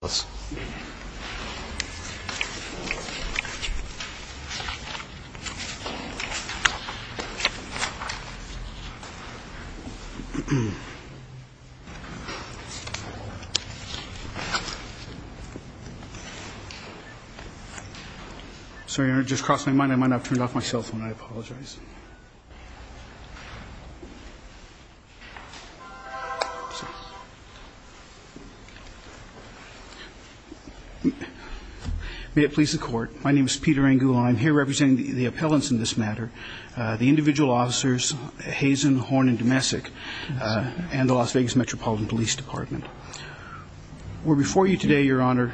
Dague v. Dumesic May it please the court. My name is Peter Angoulin. I'm here representing the appellants in this matter, the individual officers Hazen, Horn, and Dumesic, and the Las Vegas Metropolitan Police Department. We're before you today, Your Honor,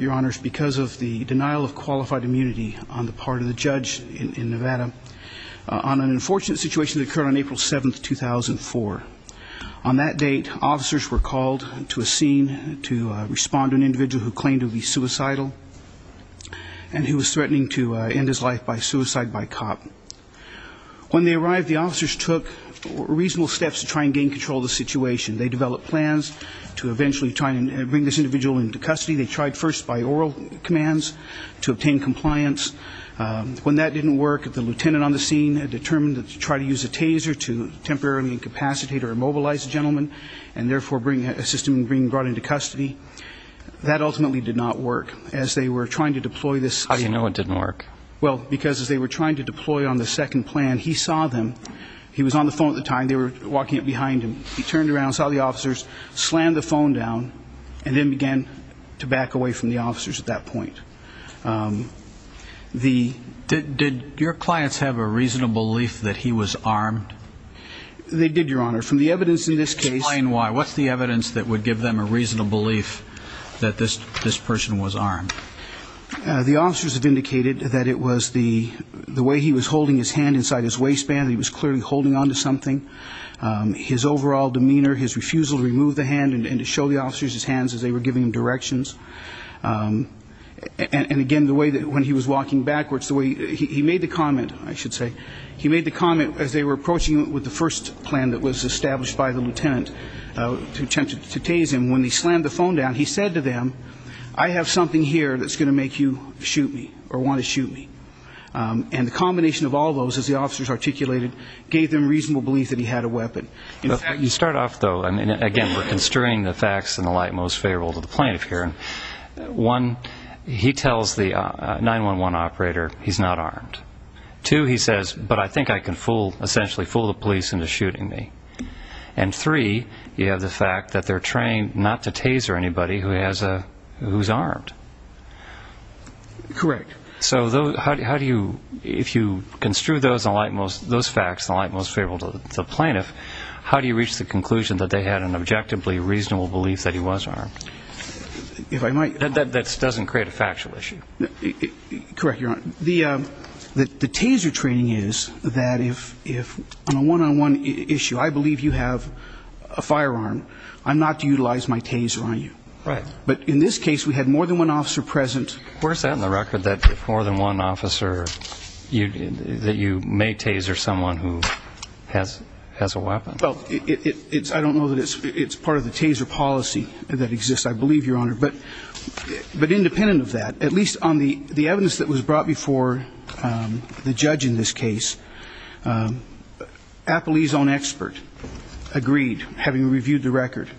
Your Honors, because of the denial of qualified immunity on the part of the judge in Nevada on an unfortunate situation that occurred on April 7, 2004. On that date, officers were called to a scene to respond to an individual who claimed to be suicidal and who was threatening to end his life by suicide by cop. When they arrived, the officers took reasonable steps to try and gain control of the situation. They developed plans to eventually try and bring this individual into custody. They tried first by oral commands to obtain compliance. When that didn't work, the lieutenant on the scene had determined to try to use a taser to temporarily incapacitate or immobilize the gentleman and, therefore, assist him in being brought into custody. That ultimately did not work as they were trying to deploy this. How do you know it didn't work? Well, because as they were trying to deploy on the second plan, he saw them. He was on the phone at the time. They were walking behind him. He turned around, saw the officers, slammed the phone down, and then began to back away from the officers at that point. Did your clients have a reasonable belief that he was armed? They did, Your Honor. From the evidence in this case. Explain why. What's the evidence that would give them a reasonable belief that this person was armed? The officers have indicated that it was the way he was holding his hand inside his waistband. He was clearly holding onto something. His overall demeanor, his refusal to remove the hand and to show the officers his hands as they were giving him directions. And, again, the way that when he was walking backwards, the way he made the comment, I should say, he made the comment as they were approaching him with the first plan that was established by the lieutenant to tase him. When he slammed the phone down, he said to them, I have something here that's going to make you shoot me or want to shoot me. And the combination of all those, as the officers articulated, gave them reasonable belief that he had a weapon. You start off, though, and, again, we're construing the facts in the light most favorable to the plaintiff here. One, he tells the 911 operator he's not armed. Two, he says, but I think I can essentially fool the police into shooting me. And, three, you have the fact that they're trained not to taser anybody who's armed. Correct. So how do you, if you construe those facts in the light most favorable to the plaintiff, how do you reach the conclusion that they had an objectively reasonable belief that he was armed? That doesn't create a factual issue. Correct, Your Honor. The taser training is that if on a one-on-one issue I believe you have a firearm, I'm not to utilize my taser on you. Right. But in this case, we had more than one officer present. Where is that in the record, that if more than one officer, that you may taser someone who has a weapon? Well, I don't know that it's part of the taser policy that exists, I believe, Your Honor. But independent of that, at least on the evidence that was brought before the judge in this case, Appley's own expert agreed, having reviewed the record,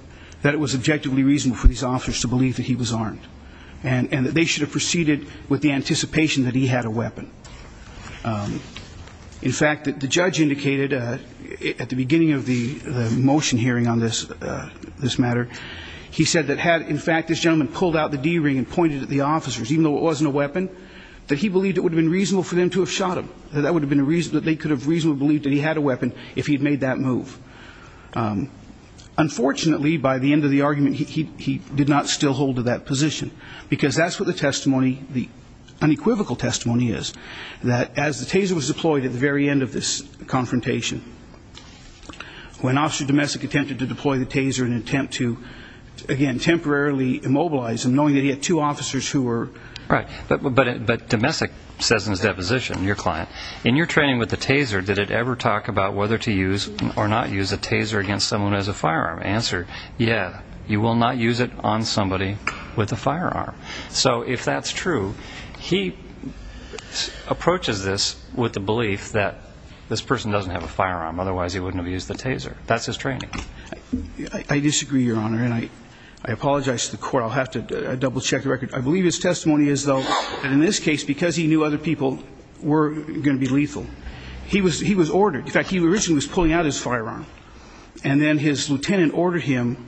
that it was objectively reasonable for these officers to believe that he was armed and that they should have proceeded with the anticipation that he had a weapon. In fact, the judge indicated at the beginning of the motion hearing on this matter, he said that had, in fact, this gentleman pulled out the D-ring and pointed at the officers, even though it wasn't a weapon, that he believed it would have been reasonable for them to have shot him, that they could have reasonably believed that he had a weapon if he had made that move. Unfortunately, by the end of the argument, he did not still hold to that position. Because that's what the testimony, the unequivocal testimony is, that as the taser was deployed at the very end of this confrontation, when Officer Domesic attempted to deploy the taser in an attempt to, again, temporarily immobilize him, knowing that he had two officers who were... Right. But Domesic says in his deposition, your client, in your training with the taser, did it ever talk about whether to use or not use a taser against someone as a firearm? Answer, yeah, you will not use it on somebody with a firearm. So if that's true, he approaches this with the belief that this person doesn't have a firearm, otherwise he wouldn't have used the taser. That's his training. I disagree, Your Honor, and I apologize to the Court. I'll have to double-check the record. I believe his testimony is, though, that in this case, because he knew other people were going to be lethal, he was ordered, in fact, he originally was pulling out his firearm, and then his lieutenant ordered him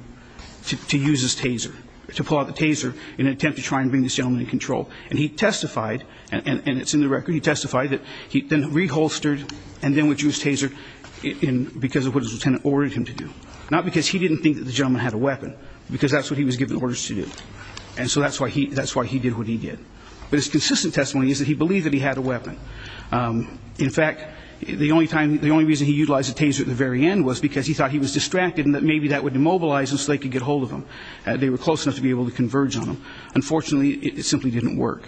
to use his taser, to pull out the taser in an attempt to try and bring this gentleman in control. And he testified, and it's in the record, he testified that he then reholstered and then would use his taser because of what his lieutenant ordered him to do, not because he didn't think that the gentleman had a weapon, because that's what he was given orders to do. And so that's why he did what he did. But his consistent testimony is that he believed that he had a weapon. In fact, the only reason he utilized the taser at the very end was because he thought he was distracted and that maybe that would immobilize him so they could get hold of him. They were close enough to be able to converge on him. Unfortunately, it simply didn't work.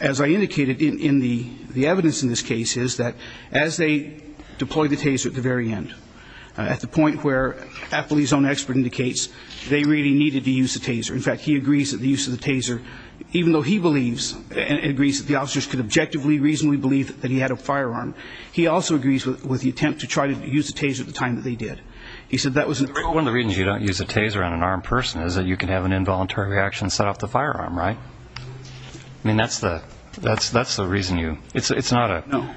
As I indicated, the evidence in this case is that as they deployed the taser at the very end, at the point where Appley's own expert indicates they really needed to use the taser. In fact, he agrees that the use of the taser, even though he believes, agrees that the officers could objectively, reasonably believe that he had a firearm, he also agrees with the attempt to try to use the taser at the time that they did. He said that was in the record. Well, one of the reasons you don't use a taser on an armed person is that you can have an involuntary reaction to set off the firearm, right? I mean, that's the reason you, it's not a.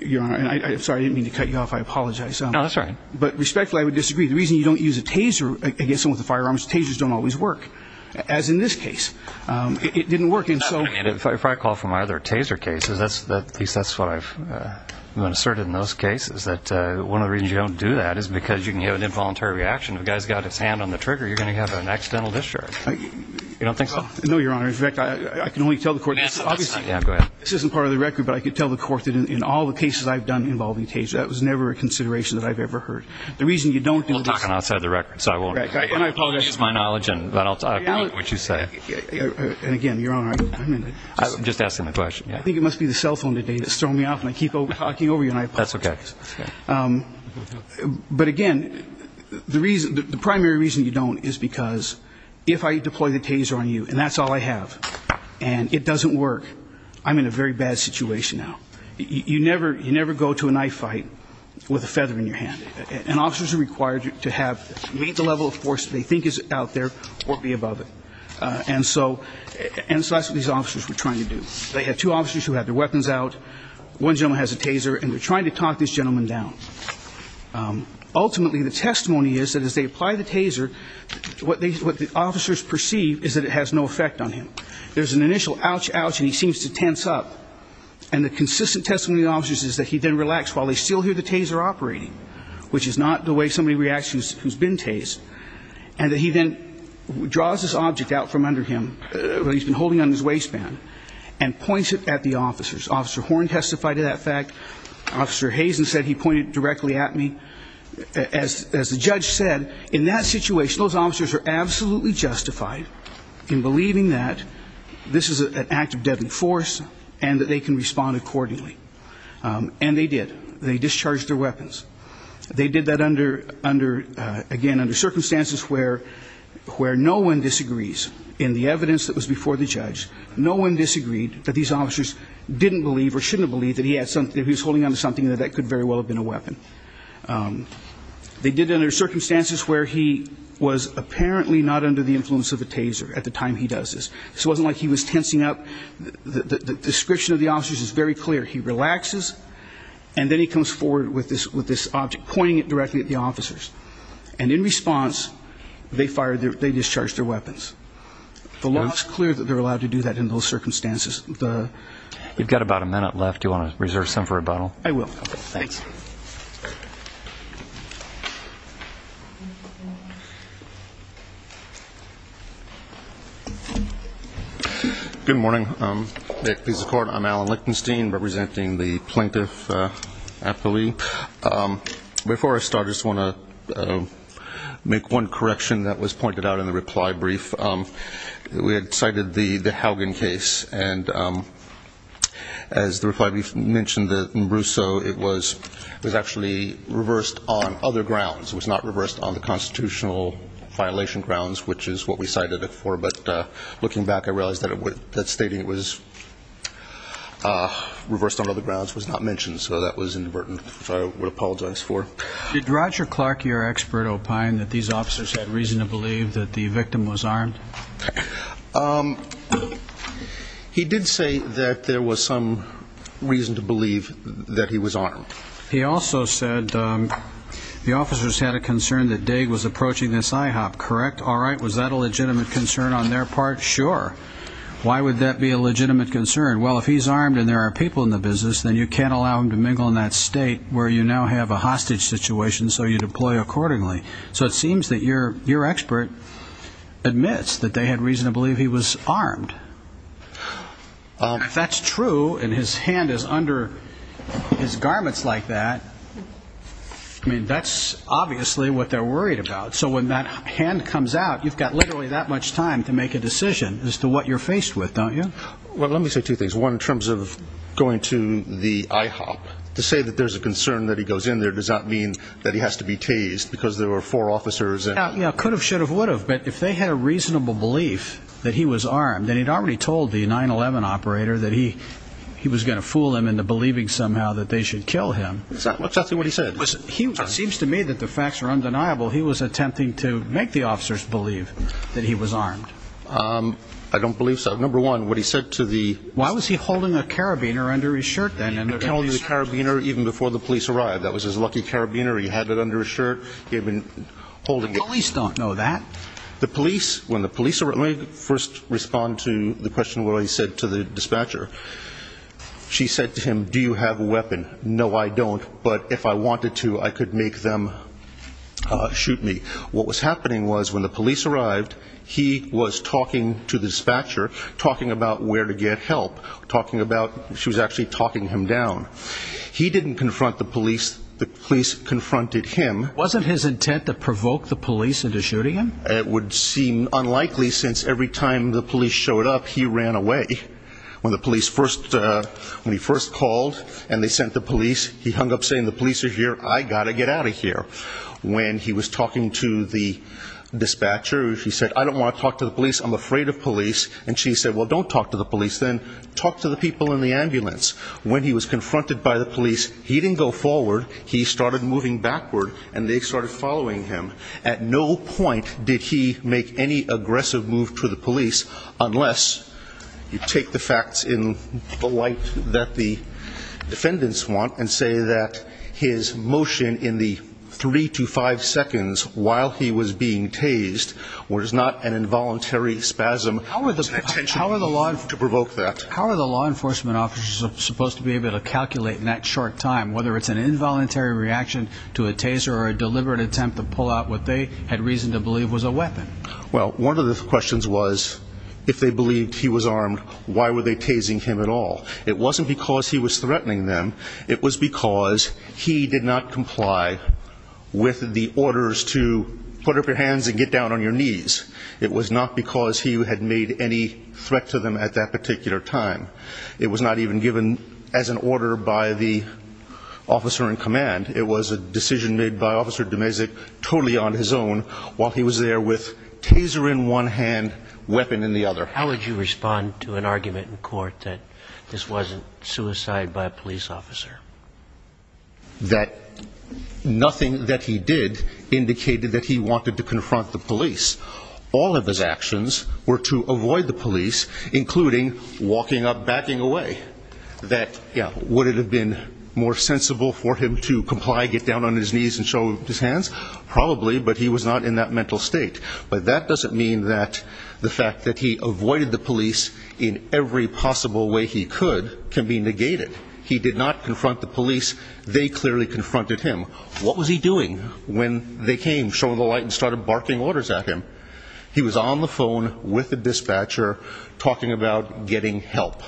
Your Honor, I'm sorry. I didn't mean to cut you off. I apologize. No, that's all right. But respectfully, I would disagree. The reason you don't use a taser against someone with a firearm is tasers don't always work, as in this case. It didn't work, and so. If I recall from my other taser cases, at least that's what I've been asserted in those cases, that one of the reasons you don't do that is because you can have an involuntary reaction. If a guy's got his hand on the trigger, you're going to have an accidental discharge. You don't think so? No, Your Honor. In fact, I can only tell the court this. Yeah, go ahead. This isn't part of the record, but I can tell the court that in all the cases I've done involving tasers, that was never a consideration that I've ever heard. The reason you don't do this. We'll talk on the outside of the record, so I won't. I apologize. I'll use my knowledge, and then I'll talk about what you say. And, again, Your Honor, I'm just asking the question. I think it must be the cell phone today that's throwing me off, and I keep talking over you, and I apologize. That's okay. But, again, the primary reason you don't is because if I deploy the taser on you, and that's all I have, and it doesn't work, I'm in a very bad situation now. You never go to a knife fight with a feather in your hand. And officers are required to meet the level of force they think is out there or be above it. And so that's what these officers were trying to do. They had two officers who had their weapons out. One gentleman has a taser, and they're trying to talk this gentleman down. Ultimately, the testimony is that as they apply the taser, what the officers perceive is that it has no effect on him. There's an initial ouch, ouch, and he seems to tense up. And the consistent testimony of the officers is that he then relaxes while they still hear the taser operating, which is not the way somebody reacts who's been tased, and that he then draws his object out from under him, what he's been holding on his waistband, and points it at the officers. Officer Horn testified to that fact. Officer Hazen said he pointed directly at me. As the judge said, in that situation, those officers are absolutely justified in believing that this is an act of deadly force and that they can respond accordingly. And they did. They discharged their weapons. They did that, again, under circumstances where no one disagrees. In the evidence that was before the judge, no one disagreed that these officers didn't believe or shouldn't have believed that he was holding onto something and that that could very well have been a weapon. They did it under circumstances where he was apparently not under the influence of a taser at the time he does this. So it wasn't like he was tensing up. The description of the officers is very clear. He relaxes, and then he comes forward with this object, pointing it directly at the officers. And in response, they discharged their weapons. The law is clear that they're allowed to do that in those circumstances. You've got about a minute left. Do you want to reserve some for rebuttal? I will. Okay, thanks. Good morning. At Peace Accord, I'm Alan Lichtenstein, representing the Plaintiff Appellee. Before I start, I just want to make one correction that was pointed out in the reply brief. We had cited the Haugen case, and as the reply brief mentioned in Russo, it was actually reversed on other grounds. It was not reversed on the constitutional violation grounds, which is what we cited it for. But looking back, I realize that stating it was reversed on other grounds was not mentioned, so that was inadvertent, which I would apologize for. Did Roger Clark, your expert, that these officers had reason to believe that the victim was armed? He did say that there was some reason to believe that he was armed. He also said the officers had a concern that Daig was approaching this IHOP, correct? All right. Was that a legitimate concern on their part? Sure. Why would that be a legitimate concern? Well, if he's armed and there are people in the business, then you can't allow him to mingle in that state where you now have a hostage situation, so you deploy accordingly. So it seems that your expert admits that they had reason to believe he was armed. If that's true and his hand is under his garments like that, I mean, that's obviously what they're worried about. So when that hand comes out, you've got literally that much time to make a decision as to what you're faced with, don't you? Well, let me say two things. One, in terms of going to the IHOP, to say that there's a concern that he goes in there does not mean that he has to be tased because there were four officers. Could have, should have, would have, but if they had a reasonable belief that he was armed and he'd already told the 9-11 operator that he was going to fool them into believing somehow that they should kill him. Exactly what he said. It seems to me that the facts are undeniable. He was attempting to make the officers believe that he was armed. I don't believe so. Number one, what he said to the— Why was he holding a carabiner under his shirt then? He told you the carabiner even before the police arrived. That was his lucky carabiner. He had it under his shirt. He had been holding it. The police don't know that. The police, when the police arrived— Let me first respond to the question of what he said to the dispatcher. She said to him, do you have a weapon? No, I don't, but if I wanted to, I could make them shoot me. What was happening was when the police arrived, he was talking to the dispatcher, talking about where to get help, talking about—she was actually talking him down. He didn't confront the police. The police confronted him. Wasn't his intent to provoke the police into shooting him? It would seem unlikely since every time the police showed up, he ran away. When he first called and they sent the police, he hung up saying the police are here, I've got to get out of here. When he was talking to the dispatcher, she said, I don't want to talk to the police, I'm afraid of police. And she said, well, don't talk to the police then. Talk to the people in the ambulance. When he was confronted by the police, he didn't go forward. He started moving backward and they started following him. At no point did he make any aggressive move to the police unless you take the facts in the light that the defendants want and say that his motion in the three to five seconds while he was being tased was not an involuntary spasm. How are the law enforcement officers supposed to be able to calculate in that short time whether it's an involuntary reaction to a taser or a deliberate attempt to pull out what they had reason to believe was a weapon? Well, one of the questions was if they believed he was armed, why were they tasing him at all? It wasn't because he was threatening them. It was because he did not comply with the orders to put up your hands and get down on your knees. It was not because he had made any threat to them at that particular time. It was not even given as an order by the officer in command. It was a decision made by Officer Domezic totally on his own while he was there with taser in one hand, weapon in the other. How would you respond to an argument in court that this wasn't suicide by a police officer? That nothing that he did indicated that he wanted to confront the police all of his actions were to avoid the police, including walking up, backing away. That, yeah, would it have been more sensible for him to comply, get down on his knees and show his hands? Probably, but he was not in that mental state. But that doesn't mean that the fact that he avoided the police in every possible way he could can be negated. He did not confront the police. They clearly confronted him. What was he doing when they came, shone the light and started barking orders at him? He was on the phone with the dispatcher talking about getting help.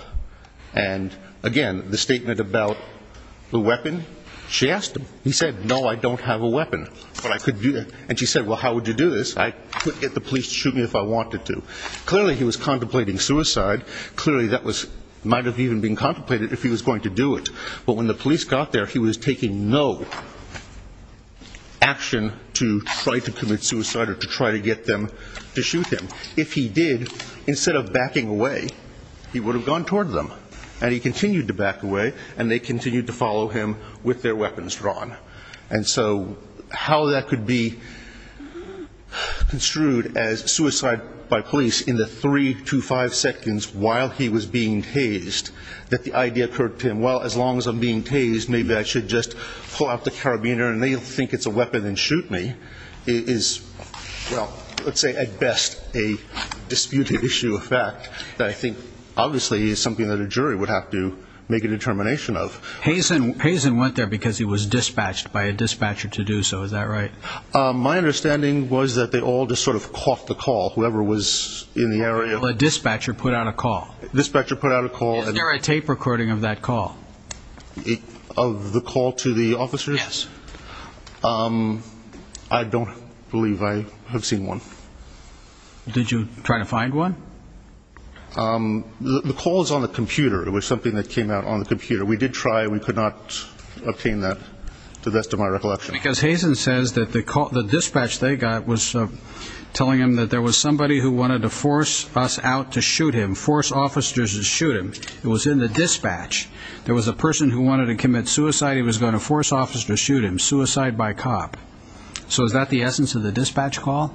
And, again, the statement about the weapon, she asked him. He said, no, I don't have a weapon, but I could do that. And she said, well, how would you do this? I could get the police to shoot me if I wanted to. Clearly, he was contemplating suicide. Clearly, that might have even been contemplated if he was going to do it. But when the police got there, he was taking no action to try to commit suicide or to try to get them to shoot him. If he did, instead of backing away, he would have gone toward them. And he continued to back away, and they continued to follow him with their weapons drawn. And so how that could be construed as suicide by police in the three to five seconds while he was being tased, that the idea occurred to him, well, as long as I'm being tased, maybe I should just pull out the carabiner and they'll think it's a weapon and shoot me, is, well, let's say at best a disputed issue of fact that I think obviously is something that a jury would have to make a determination of. Hazen went there because he was dispatched by a dispatcher to do so. Is that right? My understanding was that they all just sort of caught the call, whoever was in the area. Well, a dispatcher put out a call. A dispatcher put out a call. Is there a tape recording of that call? Of the call to the officers? Yes. I don't believe I have seen one. Did you try to find one? The call is on the computer. It was something that came out on the computer. We did try. We could not obtain that to the best of my recollection. Because Hazen says that the dispatch they got was telling him that there was somebody who wanted to force us out to shoot him, force officers to shoot him. It was in the dispatch. There was a person who wanted to commit suicide. He was going to force officers to shoot him, suicide by cop. So is that the essence of the dispatch call?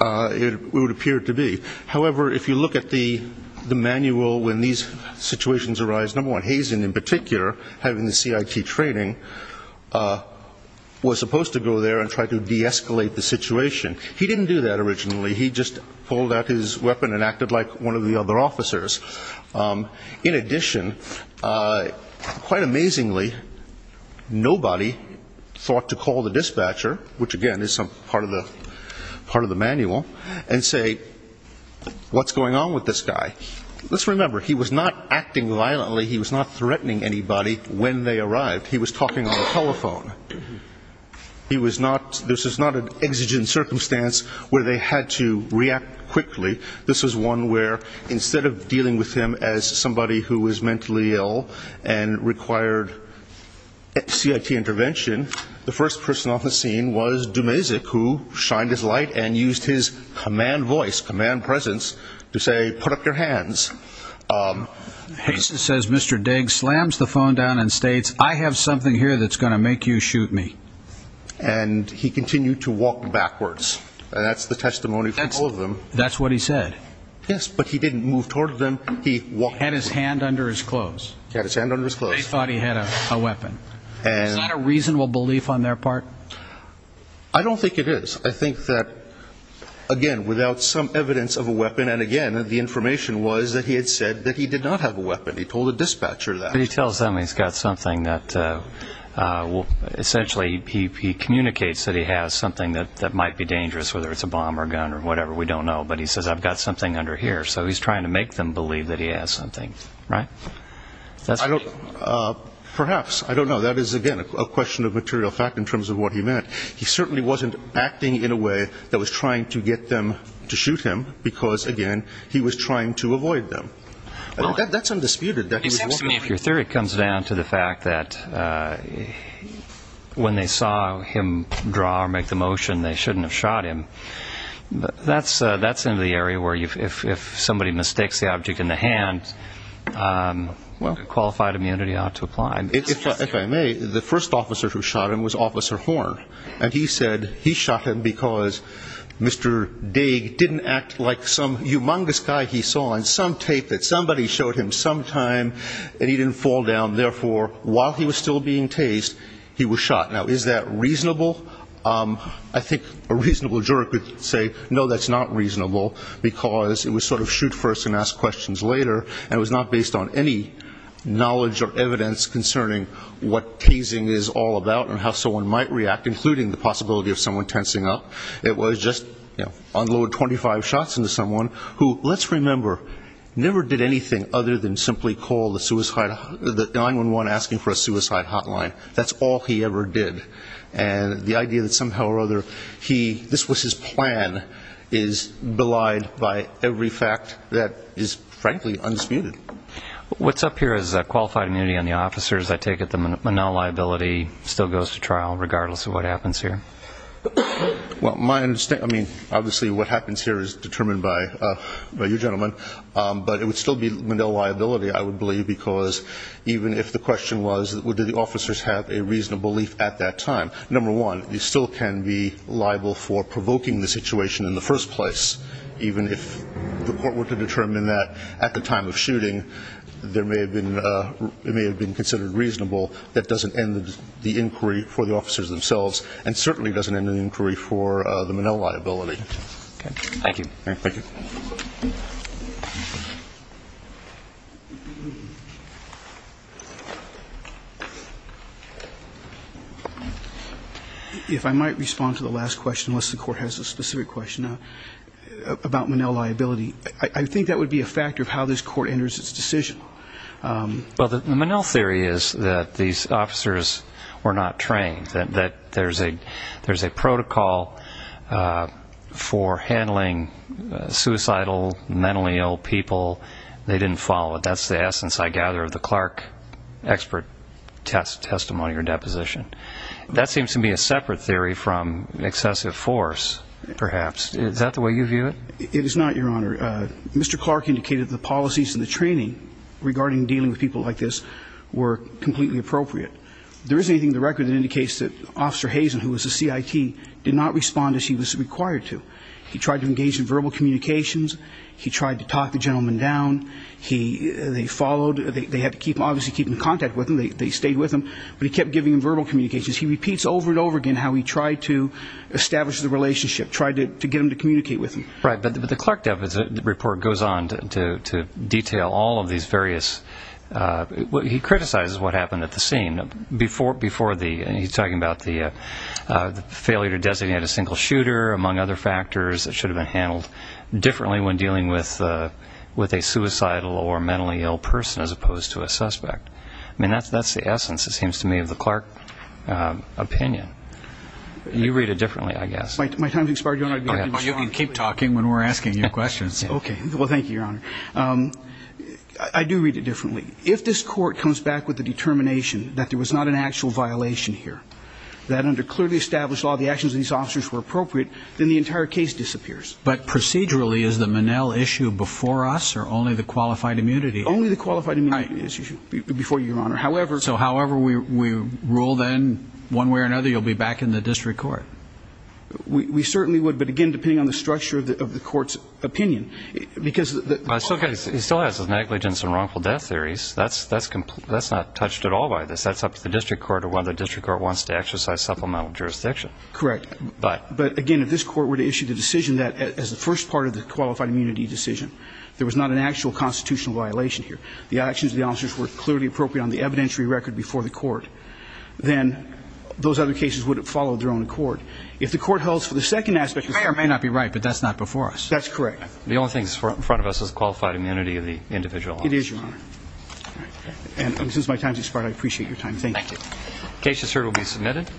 It would appear to be. However, if you look at the manual when these situations arise, number one, Hazen in particular, having the CIT training, was supposed to go there and try to de-escalate the situation. He didn't do that originally. He just pulled out his weapon and acted like one of the other officers. In addition, quite amazingly, nobody thought to call the dispatcher, which, again, is part of the manual, and say, what's going on with this guy? Let's remember, he was not acting violently. He was not threatening anybody when they arrived. He was talking on the telephone. This was not an exigent circumstance where they had to react quickly. This was one where, instead of dealing with him as somebody who was mentally ill and required CIT intervention, the first person on the scene was Dumezic, who shined his light and used his command voice, command presence, to say, put up your hands. Hazen says Mr. Dague slams the phone down and states, I have something here that's going to make you shoot me. And he continued to walk backwards. That's the testimony from all of them. That's what he said. Yes, but he didn't move toward them. He walked. He had his hand under his clothes. He had his hand under his clothes. They thought he had a weapon. Is that a reasonable belief on their part? I don't think it is. I think that, again, without some evidence of a weapon, and, again, the information was that he had said that he did not have a weapon. He told the dispatcher that. But he tells them he's got something that essentially he communicates that he has something that might be dangerous, whether it's a bomb or a gun or whatever. We don't know. But he says, I've got something under here. So he's trying to make them believe that he has something, right? Perhaps. I don't know. That is, again, a question of material fact in terms of what he meant. He certainly wasn't acting in a way that was trying to get them to shoot him because, again, he was trying to avoid them. That's undisputed. Your theory comes down to the fact that when they saw him draw or make the motion, they shouldn't have shot him. That's in the area where if somebody mistakes the object in the hand, qualified immunity ought to apply. If I may, the first officer who shot him was Officer Horn, and he said he shot him because Mr. Daig didn't act like some humongous guy he saw in some tape that somebody showed him sometime and he didn't fall down. Therefore, while he was still being tased, he was shot. Now, is that reasonable? I think a reasonable juror could say, no, that's not reasonable, because it was sort of shoot first and ask questions later, and it was not based on any knowledge or evidence concerning what tasing is all about and how someone might react, including the possibility of someone tensing up. It was just unload 25 shots into someone who, let's remember, never did anything other than simply call the 911 asking for a suicide hotline. That's all he ever did. And the idea that somehow or other this was his plan is belied by every fact that is, frankly, undisputed. What's up here is qualified immunity on the officers. I take it the Monell liability still goes to trial regardless of what happens here? Well, my understanding, I mean, obviously what happens here is determined by you gentlemen, but it would still be Monell liability, I would believe, because even if the question was, well, do the officers have a reasonable belief at that time, number one, you still can be liable for provoking the situation in the first place, even if the court were to determine that at the time of shooting, it may have been considered reasonable. That doesn't end the inquiry for the officers themselves and certainly doesn't end the inquiry for the Monell liability. Thank you. If I might respond to the last question, unless the court has a specific question, about Monell liability. I think that would be a factor of how this court enters its decision. Well, the Monell theory is that these officers were not trained, that there's a protocol for handling suicidal, mentally ill people. They didn't follow it. That's the essence, I gather, of the Clark expert testimony or deposition. That seems to me a separate theory from excessive force, perhaps. Is that the way you view it? It is not, Your Honor. Mr. Clark indicated the policies and the training regarding dealing with people like this were completely appropriate. There isn't anything in the record that indicates that Officer Hazen, who was a CIT, did not respond as he was required to. He tried to engage in verbal communications. He tried to talk the gentleman down. They followed. They had to obviously keep in contact with him. They stayed with him. But he kept giving him verbal communications. He repeats over and over again how he tried to establish the relationship, tried to get him to communicate with him. Right. But the Clark report goes on to detail all of these various ñ he criticizes what happened at the scene. He's talking about the failure to designate a single shooter, among other factors, that should have been handled differently when dealing with a suicidal or mentally ill person as opposed to a suspect. I mean, that's the essence, it seems to me, of the Clark opinion. You read it differently, I guess. My time has expired, Your Honor. You can keep talking when we're asking you questions. Okay. Well, thank you, Your Honor. I do read it differently. If this court comes back with a determination that there was not an actual violation here, that under clearly established law the actions of these officers were appropriate, then the entire case disappears. But procedurally, is the Monell issue before us or only the qualified immunity issue? Only the qualified immunity issue before you, Your Honor. So however we rule then, one way or another, you'll be back in the district court? We certainly would, but, again, depending on the structure of the court's opinion. It's okay. He still has his negligence and wrongful death theories. That's not touched at all by this. That's up to the district court or whether the district court wants to exercise supplemental jurisdiction. Correct. But, again, if this court were to issue the decision that, as the first part of the qualified immunity decision, there was not an actual constitutional violation here, the actions of the officers were clearly appropriate on the evidentiary record before the court, then those other cases would have followed their own accord. If the court holds for the second aspect. The mayor may not be right, but that's not before us. That's correct. The only thing that's in front of us is qualified immunity of the individual officers. It is, Your Honor. And since my time has expired, I appreciate your time. Thank you. Thank you. The case is heard and will be submitted.